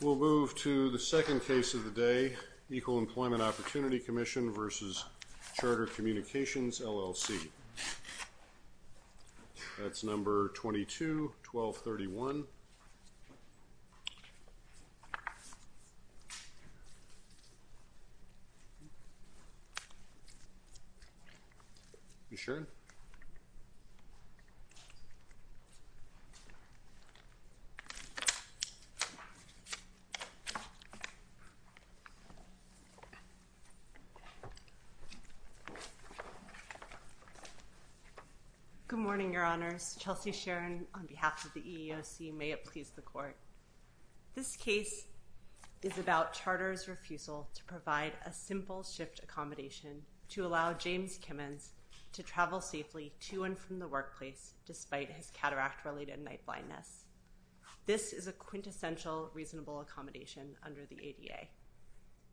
We'll move to the second case of the day, Equal Employment Opportunity Commission v. Charter Communications, LLC. That's number 22-1231. You sure? Thank you. Good morning, Your Honors. Chelsea Sharon on behalf of the EEOC. May it please the Court. This case is about Charter's refusal to provide a simple shift accommodation to allow James Kimmons to travel safely to and from the workplace despite his cataract-related night blindness. This is a quintessential reasonable accommodation under the ADA.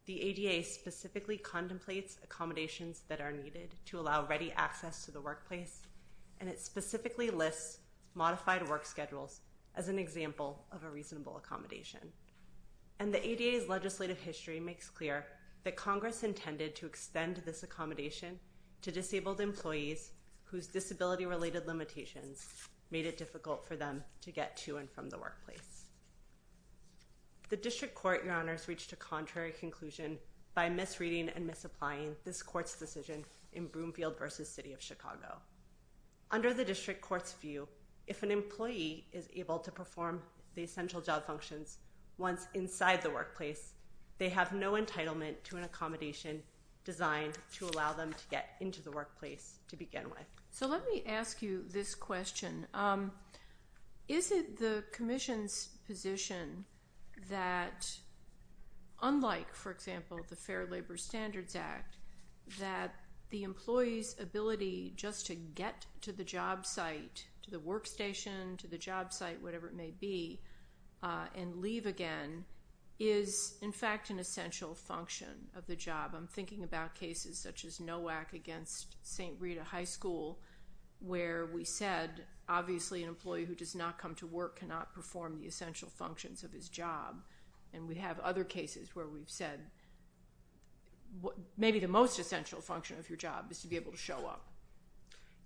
The ADA specifically contemplates accommodations that are needed to allow ready access to the workplace, and it specifically lists modified work schedules as an example of a reasonable accommodation. And the ADA's legislative history makes clear that Congress intended to extend this accommodation to disabled employees whose disability-related limitations made it difficult for them to get to and from the workplace. The District Court, Your Honors, reached a contrary conclusion by misreading and misapplying this Court's decision in Broomfield v. City of Chicago. Under the District Court's view, if an employee is able to perform the essential job functions once inside the workplace, they have no entitlement to an accommodation designed to allow them to get into the workplace to begin with. So let me ask you this question. Is it the Commission's position that, unlike, for example, the Fair Labor Standards Act, that the employee's ability just to get to the job site, to the workstation, to the job site, whatever it may be, and leave again is, in fact, an essential function of the job? I'm thinking about cases such as NOAC against St. Rita High School where we said, obviously an employee who does not come to work cannot perform the essential functions of his job. And we have other cases where we've said maybe the most essential function of your job is to be able to show up.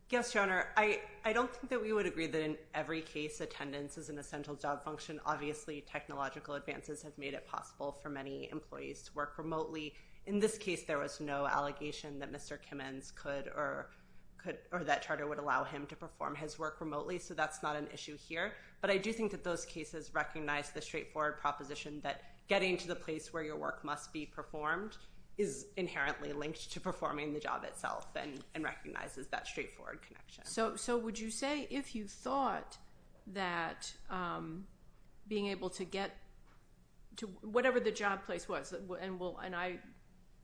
Yes, Your Honor. I don't think that we would agree that in every case attendance is an essential job function. Obviously technological advances have made it possible for many employees to work remotely. In this case, there was no allegation that Mr. Kimmins or that charter would allow him to perform his work remotely, so that's not an issue here. But I do think that those cases recognize the straightforward proposition that getting to the place where your work must be performed is inherently linked to performing the job itself and recognizes that straightforward connection. So would you say if you thought that being able to get to whatever the job place was, and I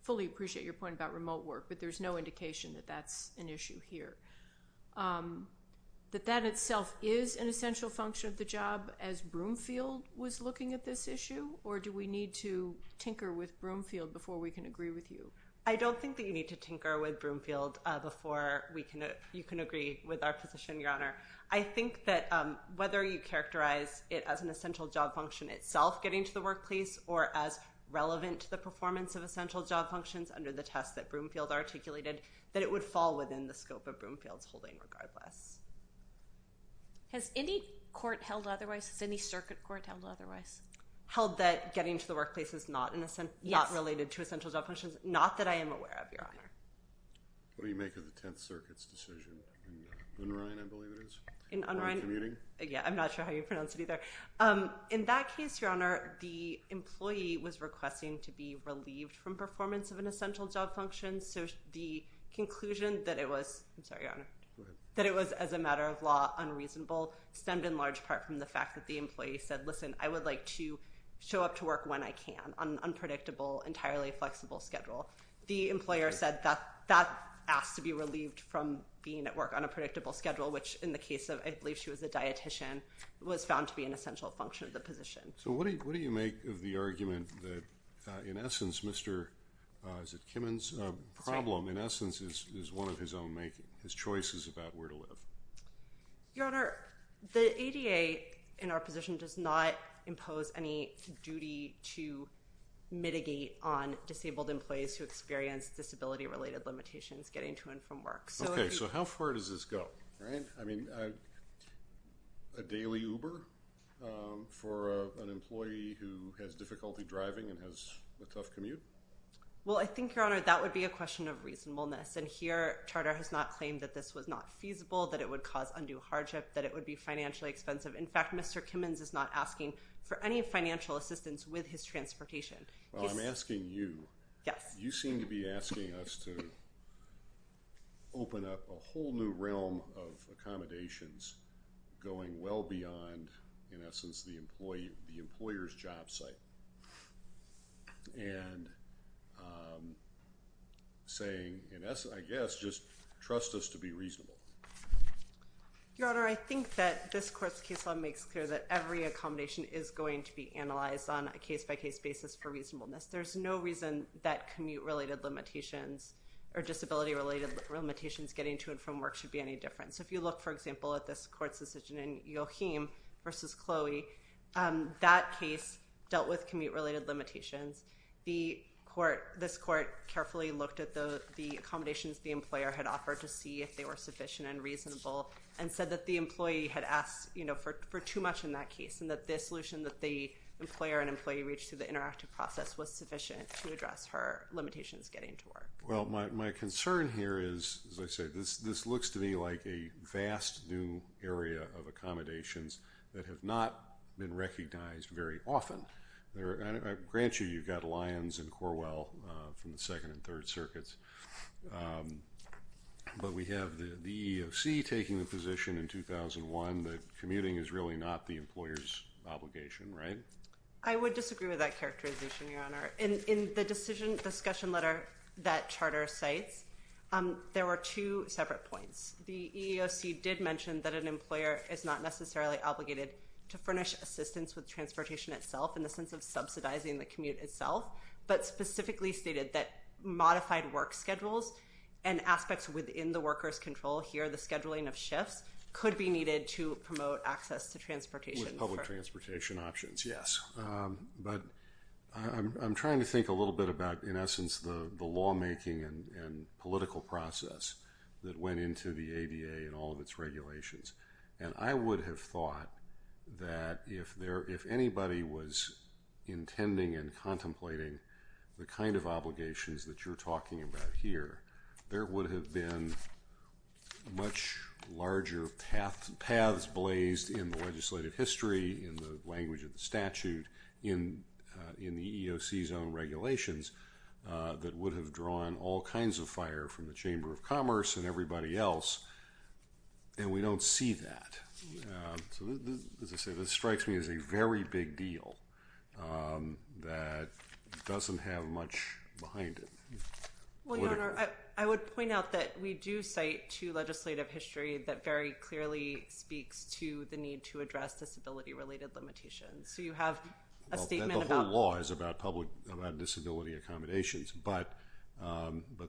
fully appreciate your point about remote work, but there's no indication that that's an issue here, that that itself is an essential function of the job as Broomfield was looking at this issue? Or do we need to tinker with Broomfield before we can agree with you? I don't think that you need to tinker with Broomfield before you can agree with our position, Your Honor. I think that whether you characterize it as an essential job function itself getting to the workplace or as relevant to the performance of essential job functions under the test that Broomfield articulated, that it would fall within the scope of Broomfield's holding regardless. Has any court held otherwise? Has any circuit court held otherwise? Held that getting to the workplace is not related to essential job functions? Yes. Not that I am aware of, Your Honor. What do you make of the Tenth Circuit's decision? In Unrhine, I believe it is? In Unrhine? Yeah, I'm not sure how you pronounce it either. In that case, Your Honor, the employee was requesting to be relieved from performance of an essential job function, so the conclusion that it was, I'm sorry, Your Honor, that it was, as a matter of law, unreasonable stemmed in large part from the fact that the employee said, listen, I would like to show up to work when I can on an unpredictable, entirely flexible schedule. The employer said that that asked to be relieved from being at work on a predictable schedule, which in the case of, I believe she was a dietician, was found to be an essential function of the position. So what do you make of the argument that, in essence, Mr. Kimmon's problem, in essence, is one of his own making? His choice is about where to live. Your Honor, the ADA in our position does not impose any duty to mitigate on disabled employees who experience disability-related limitations getting to and from work. Okay, so how far does this go? All right, I mean, a daily Uber for an employee who has difficulty driving and has a tough commute? Well, I think, Your Honor, that would be a question of reasonableness, and here, Charter has not claimed that this was not feasible, that it would cause undue hardship, that it would be financially expensive. In fact, Mr. Kimmon's is not asking for any financial assistance with his transportation. Well, I'm asking you. Yes. You seem to be asking us to open up a whole new realm of accommodations going well beyond, in essence, the employer's job site, and saying, in essence, I guess, just trust us to be reasonable. Your Honor, I think that this court's case law makes clear that every accommodation is going to be analyzed on a case-by-case basis for reasonableness. There's no reason that commute-related limitations or disability-related limitations getting to and from work should be any different. So if you look, for example, at this court's decision in Joachim v. Chloe, that case dealt with commute-related limitations. This court carefully looked at the accommodations the employer had offered to see if they were sufficient and reasonable and said that the employee had asked for too much in that case and that the solution that the employer and employee reached through the interactive process was sufficient to address her limitations getting to work. Well, my concern here is, as I say, this looks to me like a vast new area of accommodations that have not been recognized very often. I grant you you've got Lyons and Corwell from the Second and Third Circuits, but we have the EEOC taking the position in 2001 that commuting is really not the employer's obligation, right? I would disagree with that characterization, Your Honor. In the decision discussion letter that charter cites, there were two separate points. The EEOC did mention that an employer is not necessarily obligated to furnish assistance with transportation itself in the sense of subsidizing the commute itself, but specifically stated that modified work schedules and aspects within the worker's control here, the scheduling of shifts, could be needed to promote access to transportation. With public transportation options, yes. But I'm trying to think a little bit about, in essence, the lawmaking and political process that went into the ADA and all of its regulations. And I would have thought that if anybody was intending and contemplating the kind of obligations that you're talking about here, there would have been much larger paths blazed in the legislative history, in the language of the statute, in the EEOC's own regulations that would have drawn all kinds of fire from the Chamber of Commerce and everybody else, and we don't see that. So, as I say, this strikes me as a very big deal that doesn't have much behind it. Well, Your Honor, I would point out that we do cite two legislative history that very clearly speaks to the need to address disability-related limitations. So you have a statement about... The whole law is about disability accommodations, but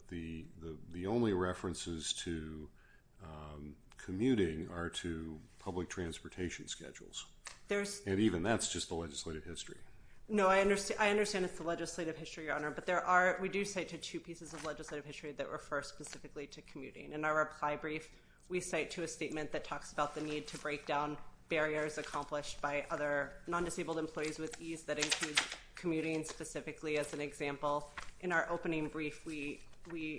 the only references to commuting are to public transportation schedules. And even that's just the legislative history. No, I understand it's the legislative history, Your Honor, but we do cite two pieces of legislative history that refer specifically to commuting. In our reply brief, we cite two statements that talk about the need to break down barriers accomplished by other non-disabled employees with ease that include commuting specifically as an example. In our opening brief, we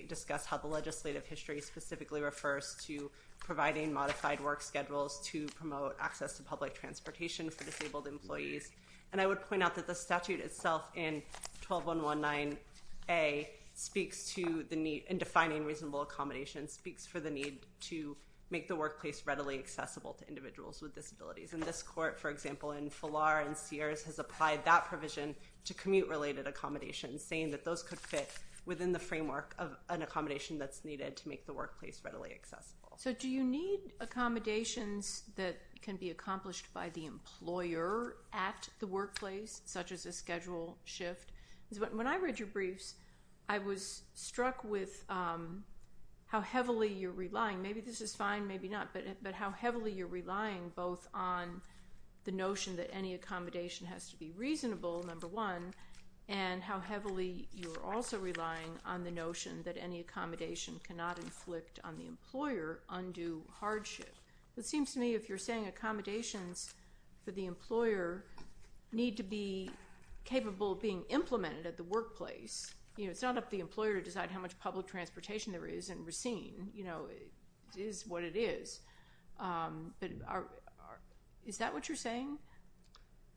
discuss how the legislative history specifically refers to providing modified work schedules to promote access to public transportation for disabled employees. And I would point out that the statute itself in 12-119-A speaks to the need in defining reasonable accommodations, speaks for the need to make the workplace readily accessible to individuals with disabilities. And this court, for example, in Falar and Sears, has applied that provision to commute-related accommodations, saying that those could fit within the framework of an accommodation that's needed to make the workplace readily accessible. So do you need accommodations that can be accomplished by the employer at the workplace, such as a schedule shift? When I read your briefs, I was struck with how heavily you're relying. Maybe this is fine, maybe not, but how heavily you're relying both on the notion that any accommodation has to be reasonable, number one, and how heavily you're also relying on the notion that any accommodation cannot inflict on the employer undue hardship. It seems to me if you're saying accommodations for the employer need to be capable of being implemented at the workplace, it's not up to the employer to decide how much public transportation there is in Racine. It is what it is. But is that what you're saying?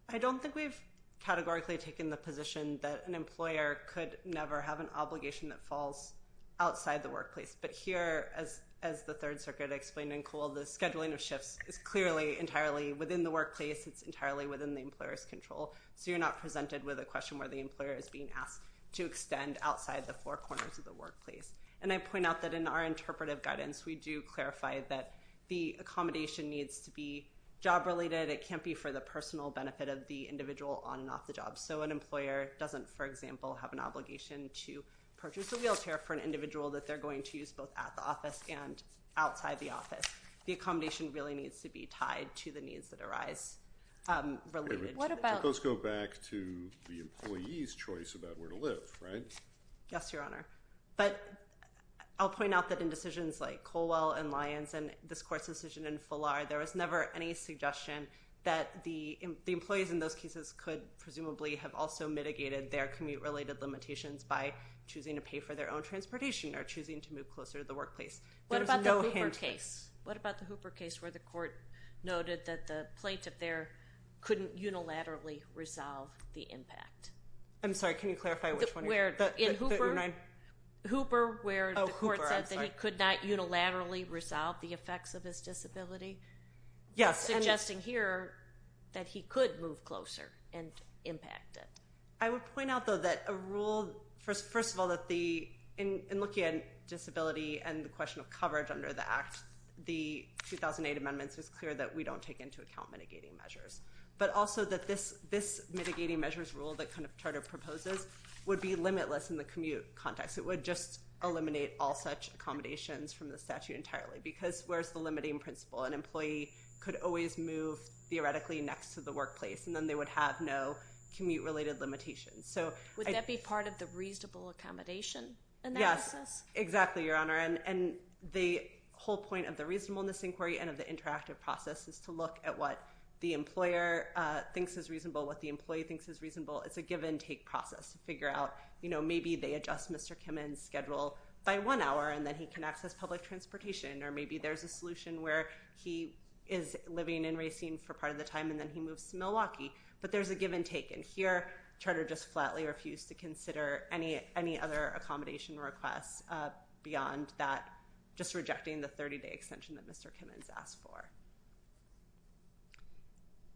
I don't think we've categorically taken the position that an employer could never have an obligation that falls outside the workplace. But here, as the Third Circuit explained in Cole, the scheduling of shifts is clearly entirely within the workplace. It's entirely within the employer's control. So you're not presented with a question where the employer is being asked to extend outside the four corners of the workplace. And I point out that in our interpretive guidance, we do clarify that the accommodation needs to be job-related. It can't be for the personal benefit of the individual on and off the job. So an employer doesn't, for example, have an obligation to purchase a wheelchair for an individual that they're going to use both at the office and outside the office. The accommodation really needs to be tied to the needs that arise. Let's go back to the employee's choice about where to live, right? Yes, Your Honor. But I'll point out that in decisions like Colwell and Lyons and this Court's decision in Fuller, there was never any suggestion that the employees in those cases could presumably have also mitigated their commute-related limitations by choosing to pay for their own transportation or choosing to move closer to the workplace. What about the Hooper case? What about the Hooper case where the court noted that the plaintiff there couldn't unilaterally resolve the impact? I'm sorry, can you clarify which one? Hooper where the court said that he could not unilaterally resolve the effects of his disability? Yes. Suggesting here that he could move closer and impact it. I would point out, though, that a rule, first of all, in looking at disability and the question of coverage under the Act, the 2008 amendments was clear that we don't take into account mitigating measures. But also that this mitigating measures rule that kind of Charter proposes would be limitless in the commute context. It would just eliminate all such accommodations from the statute entirely because where's the limiting principle? An employee could always move theoretically next to the workplace, and then they would have no commute-related limitations. Would that be part of the reasonable accommodation analysis? Yes. Exactly, Your Honor. And the whole point of the reasonableness inquiry and of the interactive process is to look at what the employer thinks is reasonable, what the employee thinks is reasonable. It's a give-and-take process to figure out, you know, maybe they adjust Mr. Kimmon's schedule by one hour, and then he can access public transportation. Or maybe there's a solution where he is living and racing for part of the time, and then he moves to Milwaukee. But there's a give-and-take. And here, Charter just flatly refused to consider any other accommodation requests beyond that, just rejecting the 30-day extension that Mr. Kimmon's asked for.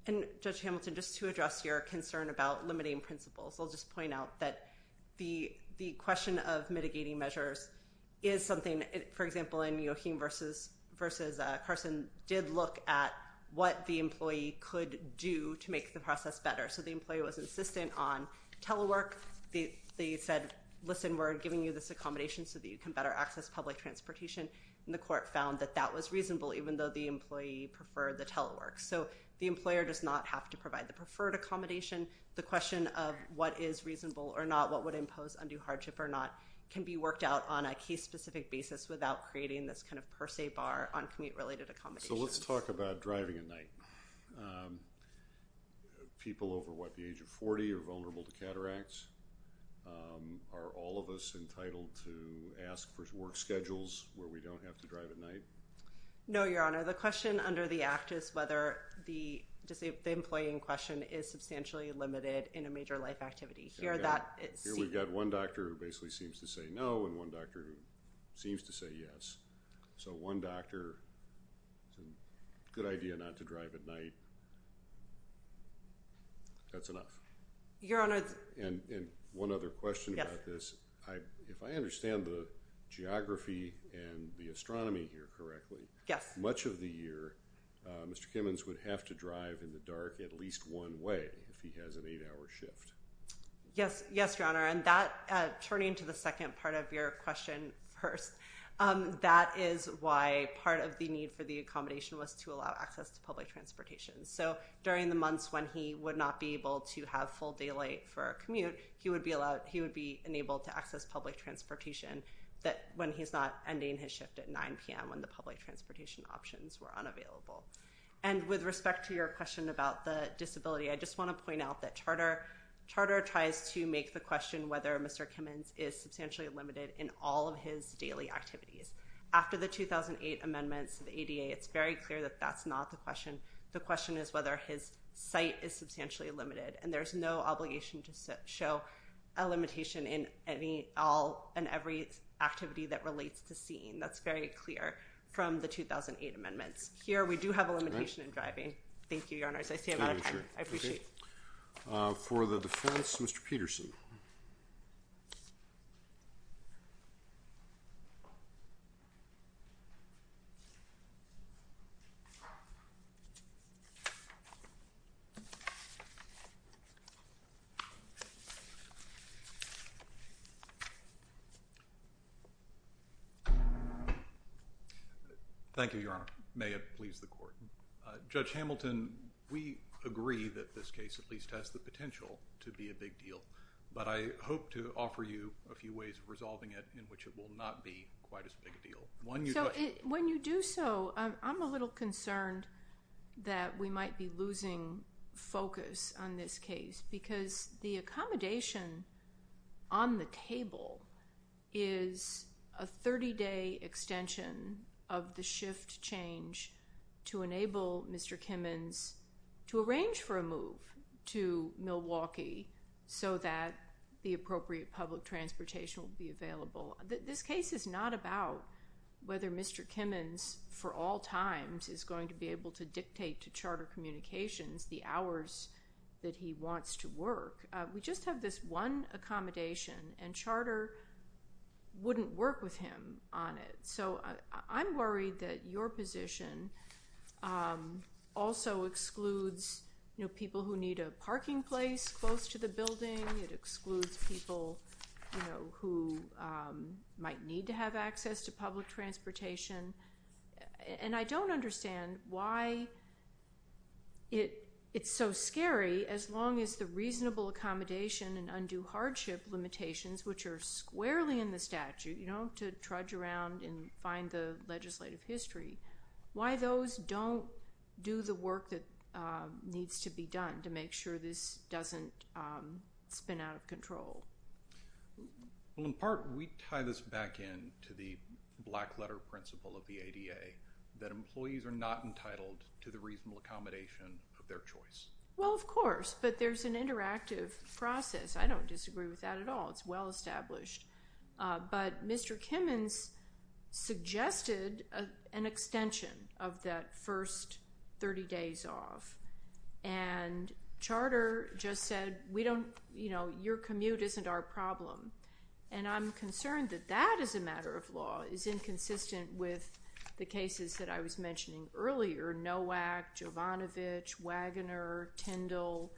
And, Judge Hamilton, just to address your concern about limiting principles, I'll just point out that the question of mitigating measures is something, for example, in Joachim versus Carson, did look at what the employee could do to make the process better. So the employee was insistent on telework. They said, listen, we're giving you this accommodation so that you can better access public transportation. And the court found that that was reasonable, even though the employee preferred the telework. So the employer does not have to provide the preferred accommodation. The question of what is reasonable or not, what would impose undue hardship or not, can be worked out on a case-specific basis without creating this kind of per se bar on commute-related accommodations. Okay, so let's talk about driving at night. People over, what, the age of 40 are vulnerable to cataracts? Are all of us entitled to ask for work schedules where we don't have to drive at night? No, Your Honor. The question under the Act is whether the employee in question is substantially limited in a major life activity. Here we've got one doctor who basically seems to say no, and one doctor who seems to say yes. So one doctor, good idea not to drive at night. That's enough. Your Honor. And one other question about this. If I understand the geography and the astronomy here correctly, much of the year Mr. Kimmons would have to drive in the dark at least one way if he has an eight-hour shift. Yes, Your Honor. And that turning to the second part of your question first, that is why part of the need for the accommodation was to allow access to public transportation. So during the months when he would not be able to have full daylight for a commute, he would be enabled to access public transportation when he's not ending his shift at 9 p.m. when the public transportation options were unavailable. And with respect to your question about the disability, I just want to point out that charter tries to make the question whether Mr. Kimmons is substantially limited in all of his daily activities. After the 2008 amendments to the ADA, it's very clear that that's not the question. The question is whether his sight is substantially limited, and there's no obligation to show a limitation in any, all and every activity that relates to seeing. That's very clear from the 2008 amendments. Here we do have a limitation in driving. Thank you, Your Honor. I appreciate it. For the defense, Mr. Peterson. Thank you, Your Honor. May it please the Court. Judge Hamilton, we agree that this case at least has the potential to be a big deal. But I hope to offer you a few ways of resolving it in which it will not be quite as big a deal. When you do so, I'm a little concerned that we might be losing focus on this case because the accommodation on the table is a 30-day extension of the shift change to enable Mr. Kimmons to arrange for a move to Milwaukee so that the appropriate public transportation will be available. This case is not about whether Mr. Kimmons for all times is going to be able to dictate to Charter Communications the hours that he wants to work. We just have this one accommodation, and Charter wouldn't work with him on it. So I'm worried that your position also excludes people who need a parking place close to the building. It excludes people who might need to have access to public transportation. And I don't understand why it's so scary as long as the reasonable accommodation and undue hardship limitations, which are squarely in the statute, to trudge around and find the legislative history, why those don't do the work that needs to be done to make sure this doesn't spin out of control. Well, in part, we tie this back in to the black letter principle of the ADA, that employees are not entitled to the reasonable accommodation of their choice. Well, of course. But there's an interactive process. I don't disagree with that at all. It's well established. But Mr. Kimmons suggested an extension of that first 30 days off. And Charter just said, you know, your commute isn't our problem. And I'm concerned that that, as a matter of law, is inconsistent with the cases that I was mentioning earlier, Novak, Jovanovich, Wagoner, Tyndall,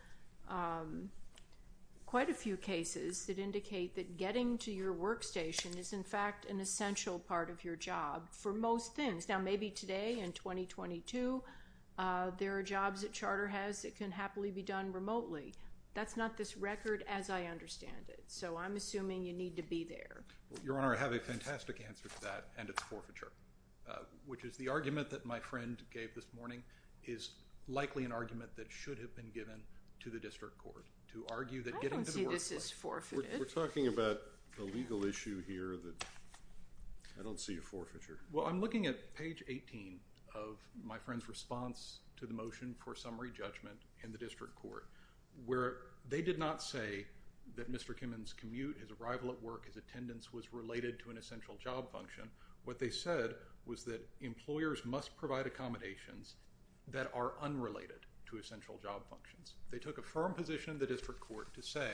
quite a few cases that indicate that getting to your workstation is, in fact, an essential part of your job for most things. Now, maybe today in 2022, there are jobs that Charter has that can happily be done remotely. That's not this record as I understand it. So I'm assuming you need to be there. Your Honor, I have a fantastic answer to that. And it's forfeiture, which is the argument that my friend gave this morning is likely an argument that should have been given to the district court to argue that getting to the workplace. I don't see this as forfeiture. We're talking about the legal issue here that I don't see a forfeiture. Well, I'm looking at page 18 of my friend's response to the motion for summary judgment in the district court where they did not say that Mr. Kimmons' commute, his arrival at work, his attendance was related to an essential job function. What they said was that employers must provide accommodations that are unrelated to essential job functions. They took a firm position in the district court to say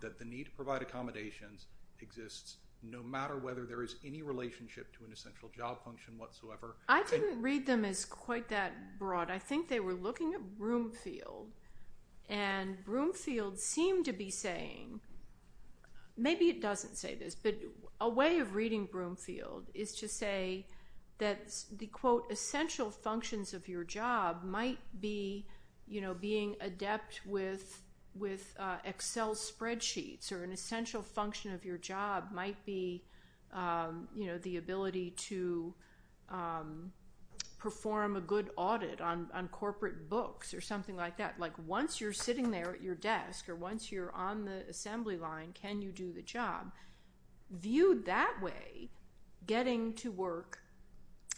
that the need to provide accommodations exists, no matter whether there is any relationship to an essential job function whatsoever. I didn't read them as quite that broad. I think they were looking at Broomfield and Broomfield seemed to be saying, maybe it doesn't say this, but a way of reading Broomfield is to say that the quote, essential functions of your job might be, you know, being adept with Excel spreadsheets or an essential function of your job might be, you know, the ability to perform a good audit on corporate books or something like that. Like once you're sitting there at your desk or once you're on the assembly line, can you do the job? Viewed that way, getting to work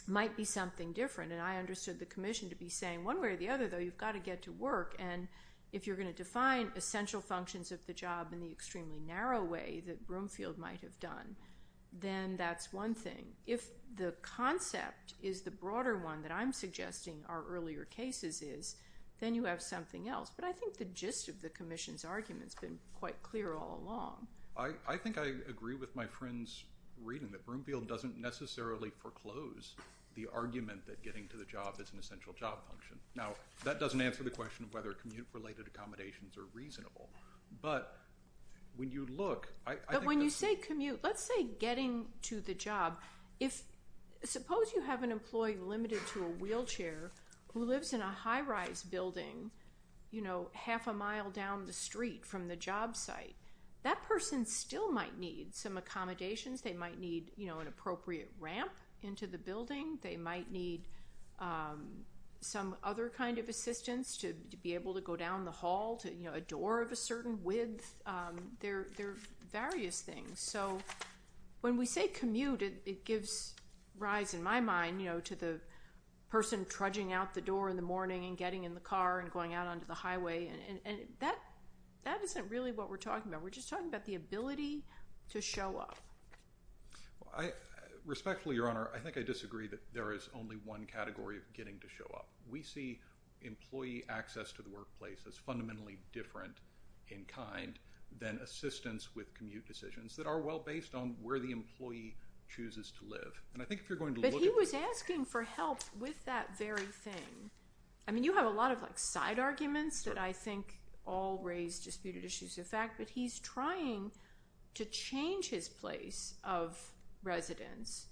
might be something different. And I understood the commission to be saying one way or the other though, you've got to get to work. And if you're going to define essential functions of the job in the extremely narrow way that Broomfield might have done, then that's one thing. If the concept is the broader one that I'm suggesting our earlier cases is, then you have something else. But I think the gist of the commission's argument has been quite clear all along. I think I agree with my friends reading that Broomfield doesn't necessarily foreclose the argument that getting to the job is an essential job function. Now that doesn't answer the question of whether commute related accommodations are reasonable, but when you look, but when you say commute, let's say getting to the job, if suppose you have an employee limited to a wheelchair who lives in a high rise building, you know, half a mile down the street from the job site that person still might need some accommodations. They might need, you know, an appropriate ramp into the building. They might need some other kind of assistance to be able to go down the hall to, you know, a door of a certain width. There, there are various things. I mean, I don't want to get into the person trudging out the door in the morning and getting in the car and going out onto the highway. And that, that isn't really what we're talking about. We're just talking about the ability to show up. Respectfully, Your Honor, I think I disagree that there is only one category of getting to show up. We see employee access to the workplace as fundamentally different in kind than assistance with commute decisions that are well based on where the employee chooses to live. But he was asking for help with that very thing. I mean, you have a lot of like side arguments that I think all raise disputed issues. In fact, but he's trying to change his place of residence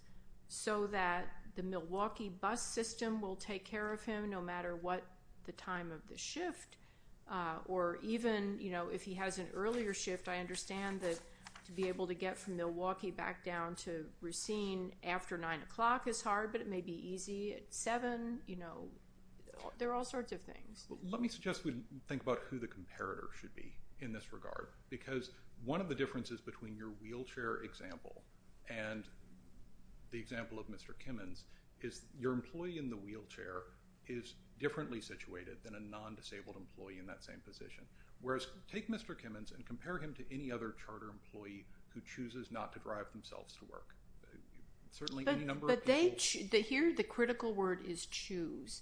so that the Milwaukee bus system will take care of him no matter what the time of the shift or even, you know, if he has an earlier shift, I understand that to be able to get from Milwaukee back down to Racine after nine o'clock is hard, but it may be easy at seven, you know, there are all sorts of things. Let me suggest we think about who the comparator should be in this regard because one of the differences between your wheelchair example and the example of Mr. Kimmons is your employee in the wheelchair is differently situated than a non-disabled employee in that same position. Whereas take Mr. Kimmons and compare him to any other charter employee who chooses not to drive themselves to work. But they hear the critical word is choose.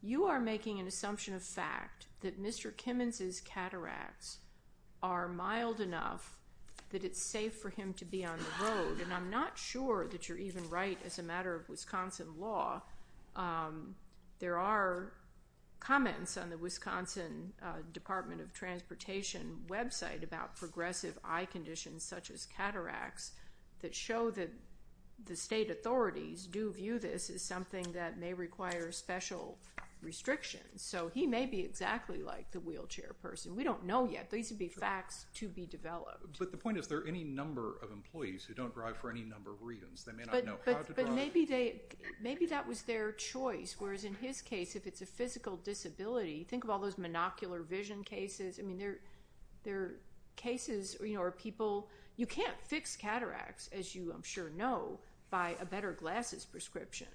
You are making an assumption of fact that Mr. Kimmons is cataracts are mild enough that it's safe for him to be on the road. And I'm not sure that you're even right as a matter of Wisconsin law. There are comments on the Wisconsin Department of Transportation website about progressive eye conditions such as cataracts that show that the state authorities do view this as something that may require special restrictions. So he may be exactly like the wheelchair person. We don't know yet. These would be facts to be developed. But the point is there any number of employees who don't drive for any number of reasons they may not know. But maybe they maybe that was their choice. Whereas in his case if it's a physical disability think of all those monocular vision cases. I mean they're they're cases or people you can't fix cataracts as you I'm sure know by a better glasses prescription.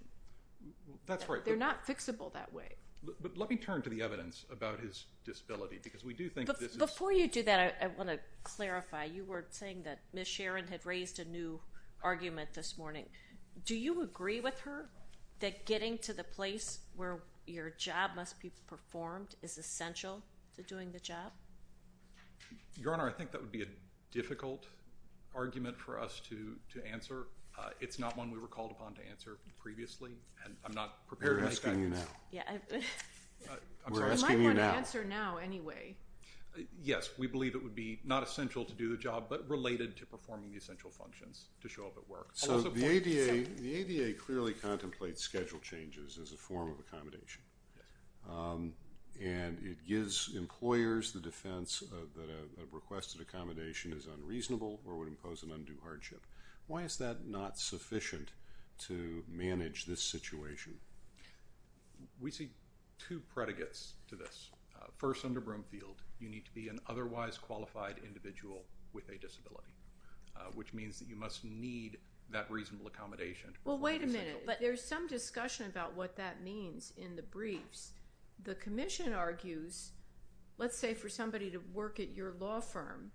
That's right. They're not fixable that way. But let me turn to the evidence about his disability because we do think before you do that. I want to clarify. You were saying that Ms. Sharon had raised a new argument this morning. Do you agree with her that getting to the place where your job must be performed is essential to doing the job. Your Honor I think that would be a difficult argument for us to answer. It's not one we were called upon to answer previously and I'm not prepared asking you now. Yeah. I'm asking you now answer now anyway. Yes. We believe it would be not essential to do the job but related to performing the essential functions to show up at work. So the ADA clearly contemplates schedule changes as a form of accommodation and it gives employers the defense that a requested accommodation is unreasonable or would impose an undue hardship. Why is that not sufficient to manage this situation. We see two predicates to this. First under Broomfield you need to be an otherwise qualified individual with a disability which means that you must need that reasonable accommodation. Well wait a minute. But there's some discussion about what that means in the briefs. The commission argues let's say for somebody to work at your law firm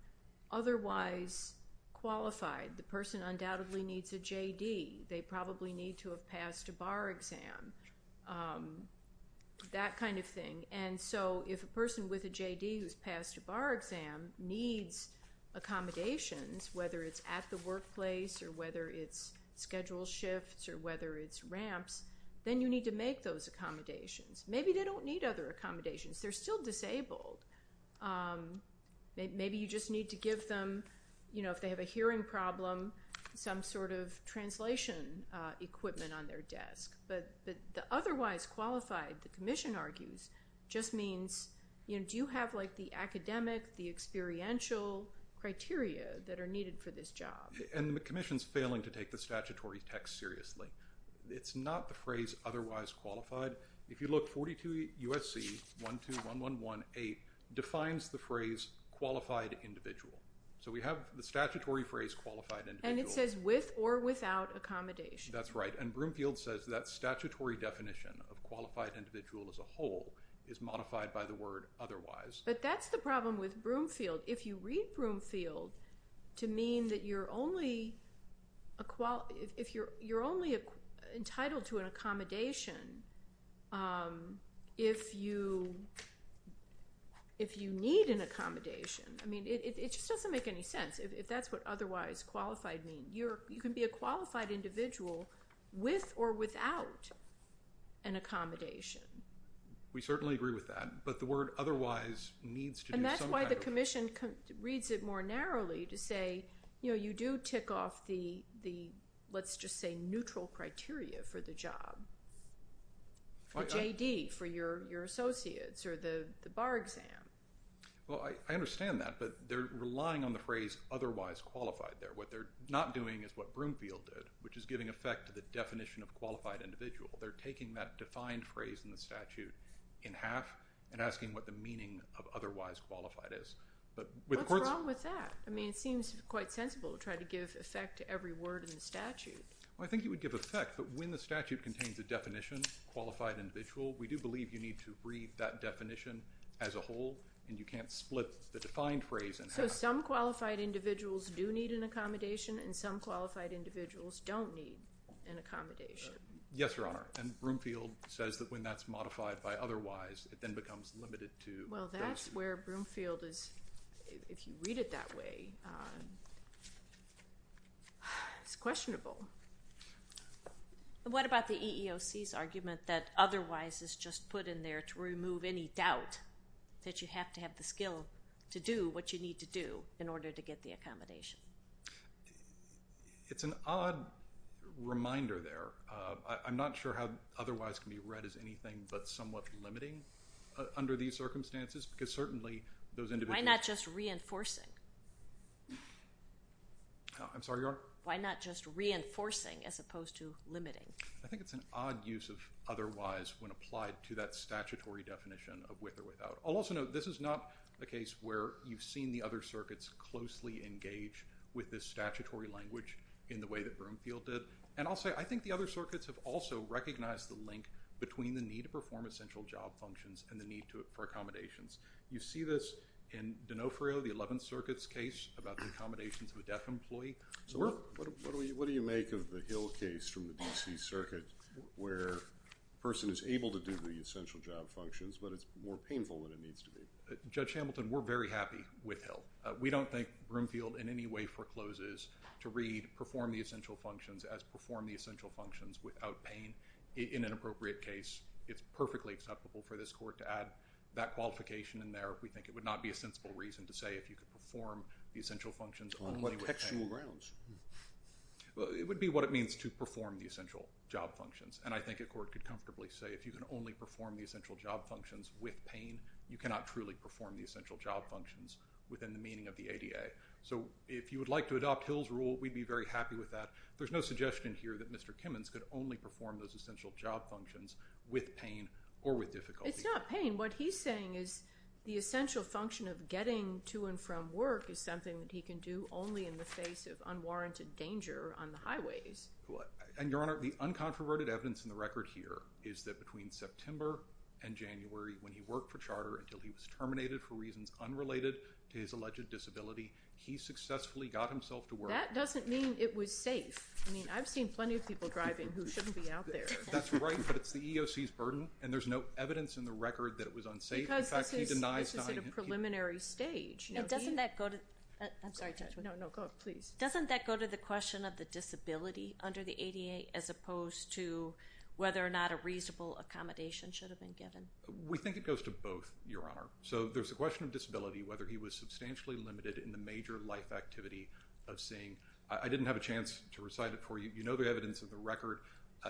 otherwise qualified the person undoubtedly needs a J.D. They probably need to have passed a bar exam that kind of thing. And so if a person with a J.D. who's passed a bar exam needs accommodations whether it's at the workplace or whether it's schedule shifts or whether it's ramps then you need to make those accommodations. Maybe they don't need other accommodations. They're still disabled. Maybe you just need to give them you know if they have a hearing problem some sort of translation equipment on their desk. But the otherwise qualified the commission argues just means you do have like the academic the experiential criteria that are needed for this job and the commission's failing to take the statutory text seriously. It's not the phrase otherwise qualified. If you look 42 USC 1 2 1 1 1 8 defines the phrase qualified individual. So we have the statutory phrase qualified and it says with or without accommodation. That's right. And Broomfield says that statutory definition of qualified individual as a whole is modified by the word otherwise. But that's the problem with Broomfield. If you read Broomfield to mean that you're only a qual if you're you're only entitled to an accommodation if you if you need an accommodation. I mean it just doesn't make any sense if that's what otherwise qualified mean you're you can be a qualified individual with or without an accommodation. We certainly agree with that. But the word otherwise needs to and that's why the commission reads it more narrowly to say you know you do tick off the the let's just say neutral criteria for the job JD for your your associates or the bar exam. Well I understand that but they're relying on the phrase otherwise qualified there. What they're not doing is what Broomfield did which is giving effect to the definition of qualified individual. They're taking that defined phrase in the statute in half and asking what the meaning of otherwise qualified is. But what's wrong with that. I mean it seems quite sensible to try to give effect to every word in the statute. I think it would give effect. But when the statute contains a definition qualified individual we do believe you need to read that definition as a whole and you can't split the defined phrase. So some qualified individuals do need an accommodation and some qualified individuals don't need an accommodation. Yes Your Honor. And Broomfield says that when that's modified by otherwise it then becomes limited to. Well that's where Broomfield is. If you read it that way it's questionable. What about the EEOC's argument that otherwise is just put in there to remove any doubt that you have to have the skill to do what you need to do in order to get the accommodation. It's an odd reminder there. I'm not sure how otherwise can be read as anything but somewhat limiting under these circumstances because certainly those individuals. Why not just reinforcing. I'm sorry Your Honor. Why not just reinforcing as opposed to limiting. I think it's an odd use of otherwise when applied to that statutory definition of with or without. I'll also note this is not a case where you've seen the other circuits closely engage with this statutory language in the way that Broomfield did. And I'll say I think the other circuits have also recognized the link between the need to perform essential job functions and the need for accommodations. You see this in D'Onofrio the 11th Circuit's case about the accommodations of a deaf employee. What do you make of the Hill case from the D.C. Circuit where a person is able to do the essential job functions but it's more painful than it needs to be. Judge Hamilton we're very happy with Hill. We don't think Broomfield in any way forecloses to read perform the essential functions as perform the essential functions without pain in an appropriate case. It's perfectly acceptable for this court to add that qualification in there if we think it would not be a sensible reason to say if you could perform the essential functions. On what textual grounds? It would be what it means to perform the essential job functions. And I think a court could comfortably say if you can only perform the essential job functions with pain you cannot truly perform the essential job functions within the meaning of the ADA. So if you would like to adopt Hill's rule we'd be very happy with that. There's no suggestion here that Mr. Kimmons could only perform those essential job functions with pain or with difficulty. It's not pain. What he's saying is the essential function of getting to and from work is something that he can do only in the face of unwarranted danger on the highways. And Your Honor the uncontroverted evidence in the record here is that between September and January when he worked for charter until he was terminated for reasons unrelated to his alleged disability he successfully got himself to work. That doesn't mean it was safe. I mean I've seen plenty of people driving who shouldn't be out there. That's right but it's the EEOC's burden and there's no evidence in the record that it was unsafe. Because this is at a preliminary stage. Doesn't that go to the question of the disability under the ADA as opposed to whether or not a reasonable accommodation should have been given. We think it goes to both Your Honor. So there's a question of disability whether he was substantially limited in the major life activity of seeing. I didn't have a chance to recite it for you. You know the evidence of the record.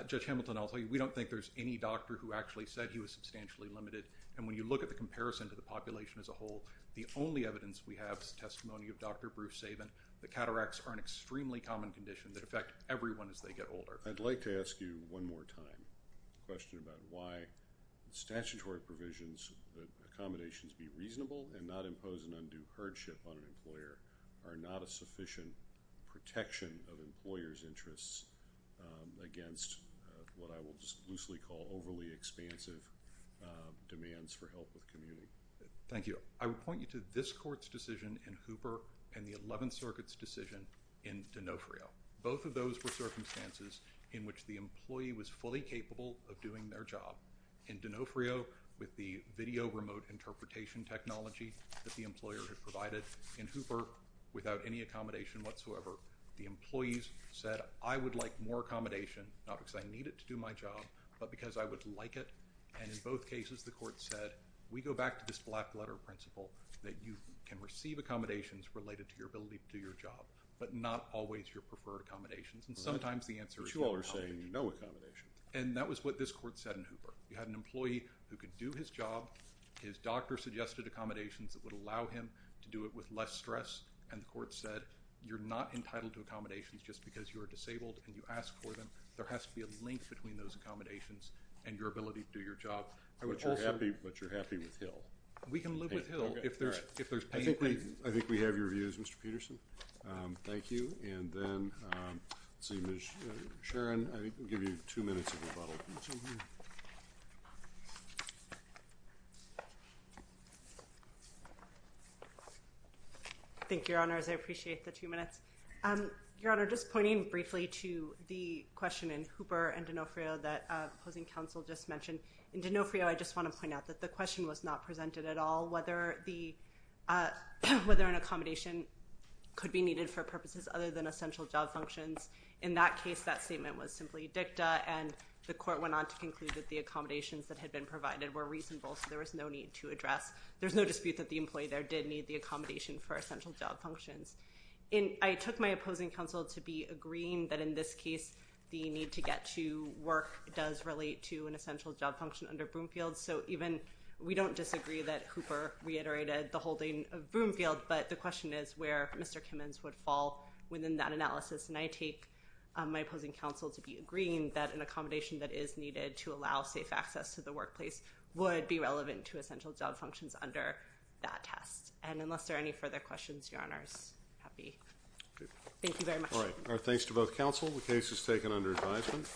Judge Hamilton I'll tell you we don't think there's any doctor who actually said he was substantially limited. And when you look at the comparison to the population as a whole the only evidence we have is testimony of Dr. Bruce Saban. The cataracts are an extremely common condition that affect everyone as they get older. I'd like to ask you one more time a question about why statutory provisions that accommodations be reasonable and not impose an undue hardship on an employer are not a sufficient protection of employers interests against what I will just loosely call overly expansive demands for help with community. Thank you. I would point you to this court's decision in Hooper and the 11th Circuit's decision in D'Onofrio. Both of those were circumstances in which the employee was fully capable of doing their job. In D'Onofrio with the video remote interpretation technology that the employer had provided in Hooper without any accommodation whatsoever the employees said I would like more accommodation not because I need it to do my job but because I would like it. And in both cases the court said we go back to this black letter principle that you can receive accommodations related to your ability to do your job but not always your preferred accommodations. And sometimes the answer is no accommodation. But you all are saying no accommodation. And that was what this court said in Hooper. You had an employee who could do his job. His doctor suggested accommodations that would allow him to do it with less stress and the court said you're not entitled to accommodations just because you are disabled and you ask for them. There has to be a link between those accommodations and your ability to do your job. But you're happy with Hill. We can live with Hill if there's pain points. I think we have your views, Mr. Peterson. Thank you. And then Sharon, I'll give you two minutes of rebuttal. Thank you, Your Honors. I appreciate the two minutes. Your Honor, just pointing briefly to the question in Hooper and D'Onofrio that opposing counsel just mentioned. In D'Onofrio I just want to point out that the question was not presented at all whether an accommodation could be needed for purposes other than essential job functions. In that case that statement was simply dicta and the court went on to conclude that the accommodations that had been provided were reasonable so there was no need to address. There's no dispute that the employee there did need the accommodation for essential job functions. I took my opposing counsel to be agreeing that in this case the need to get to work does relate to an essential job function under Broomfield. So even we don't disagree that Hooper reiterated the holding of Broomfield, but the question is where Mr. Kimmons would fall within that analysis. And I take my opposing counsel to be agreeing that an accommodation that is needed to allow safe access to the workplace would be relevant to essential job functions under that test. And unless there are any further questions, Your Honors, I'm happy. Thank you very much. All right. Thanks to both counsel. The case is taken under advisement.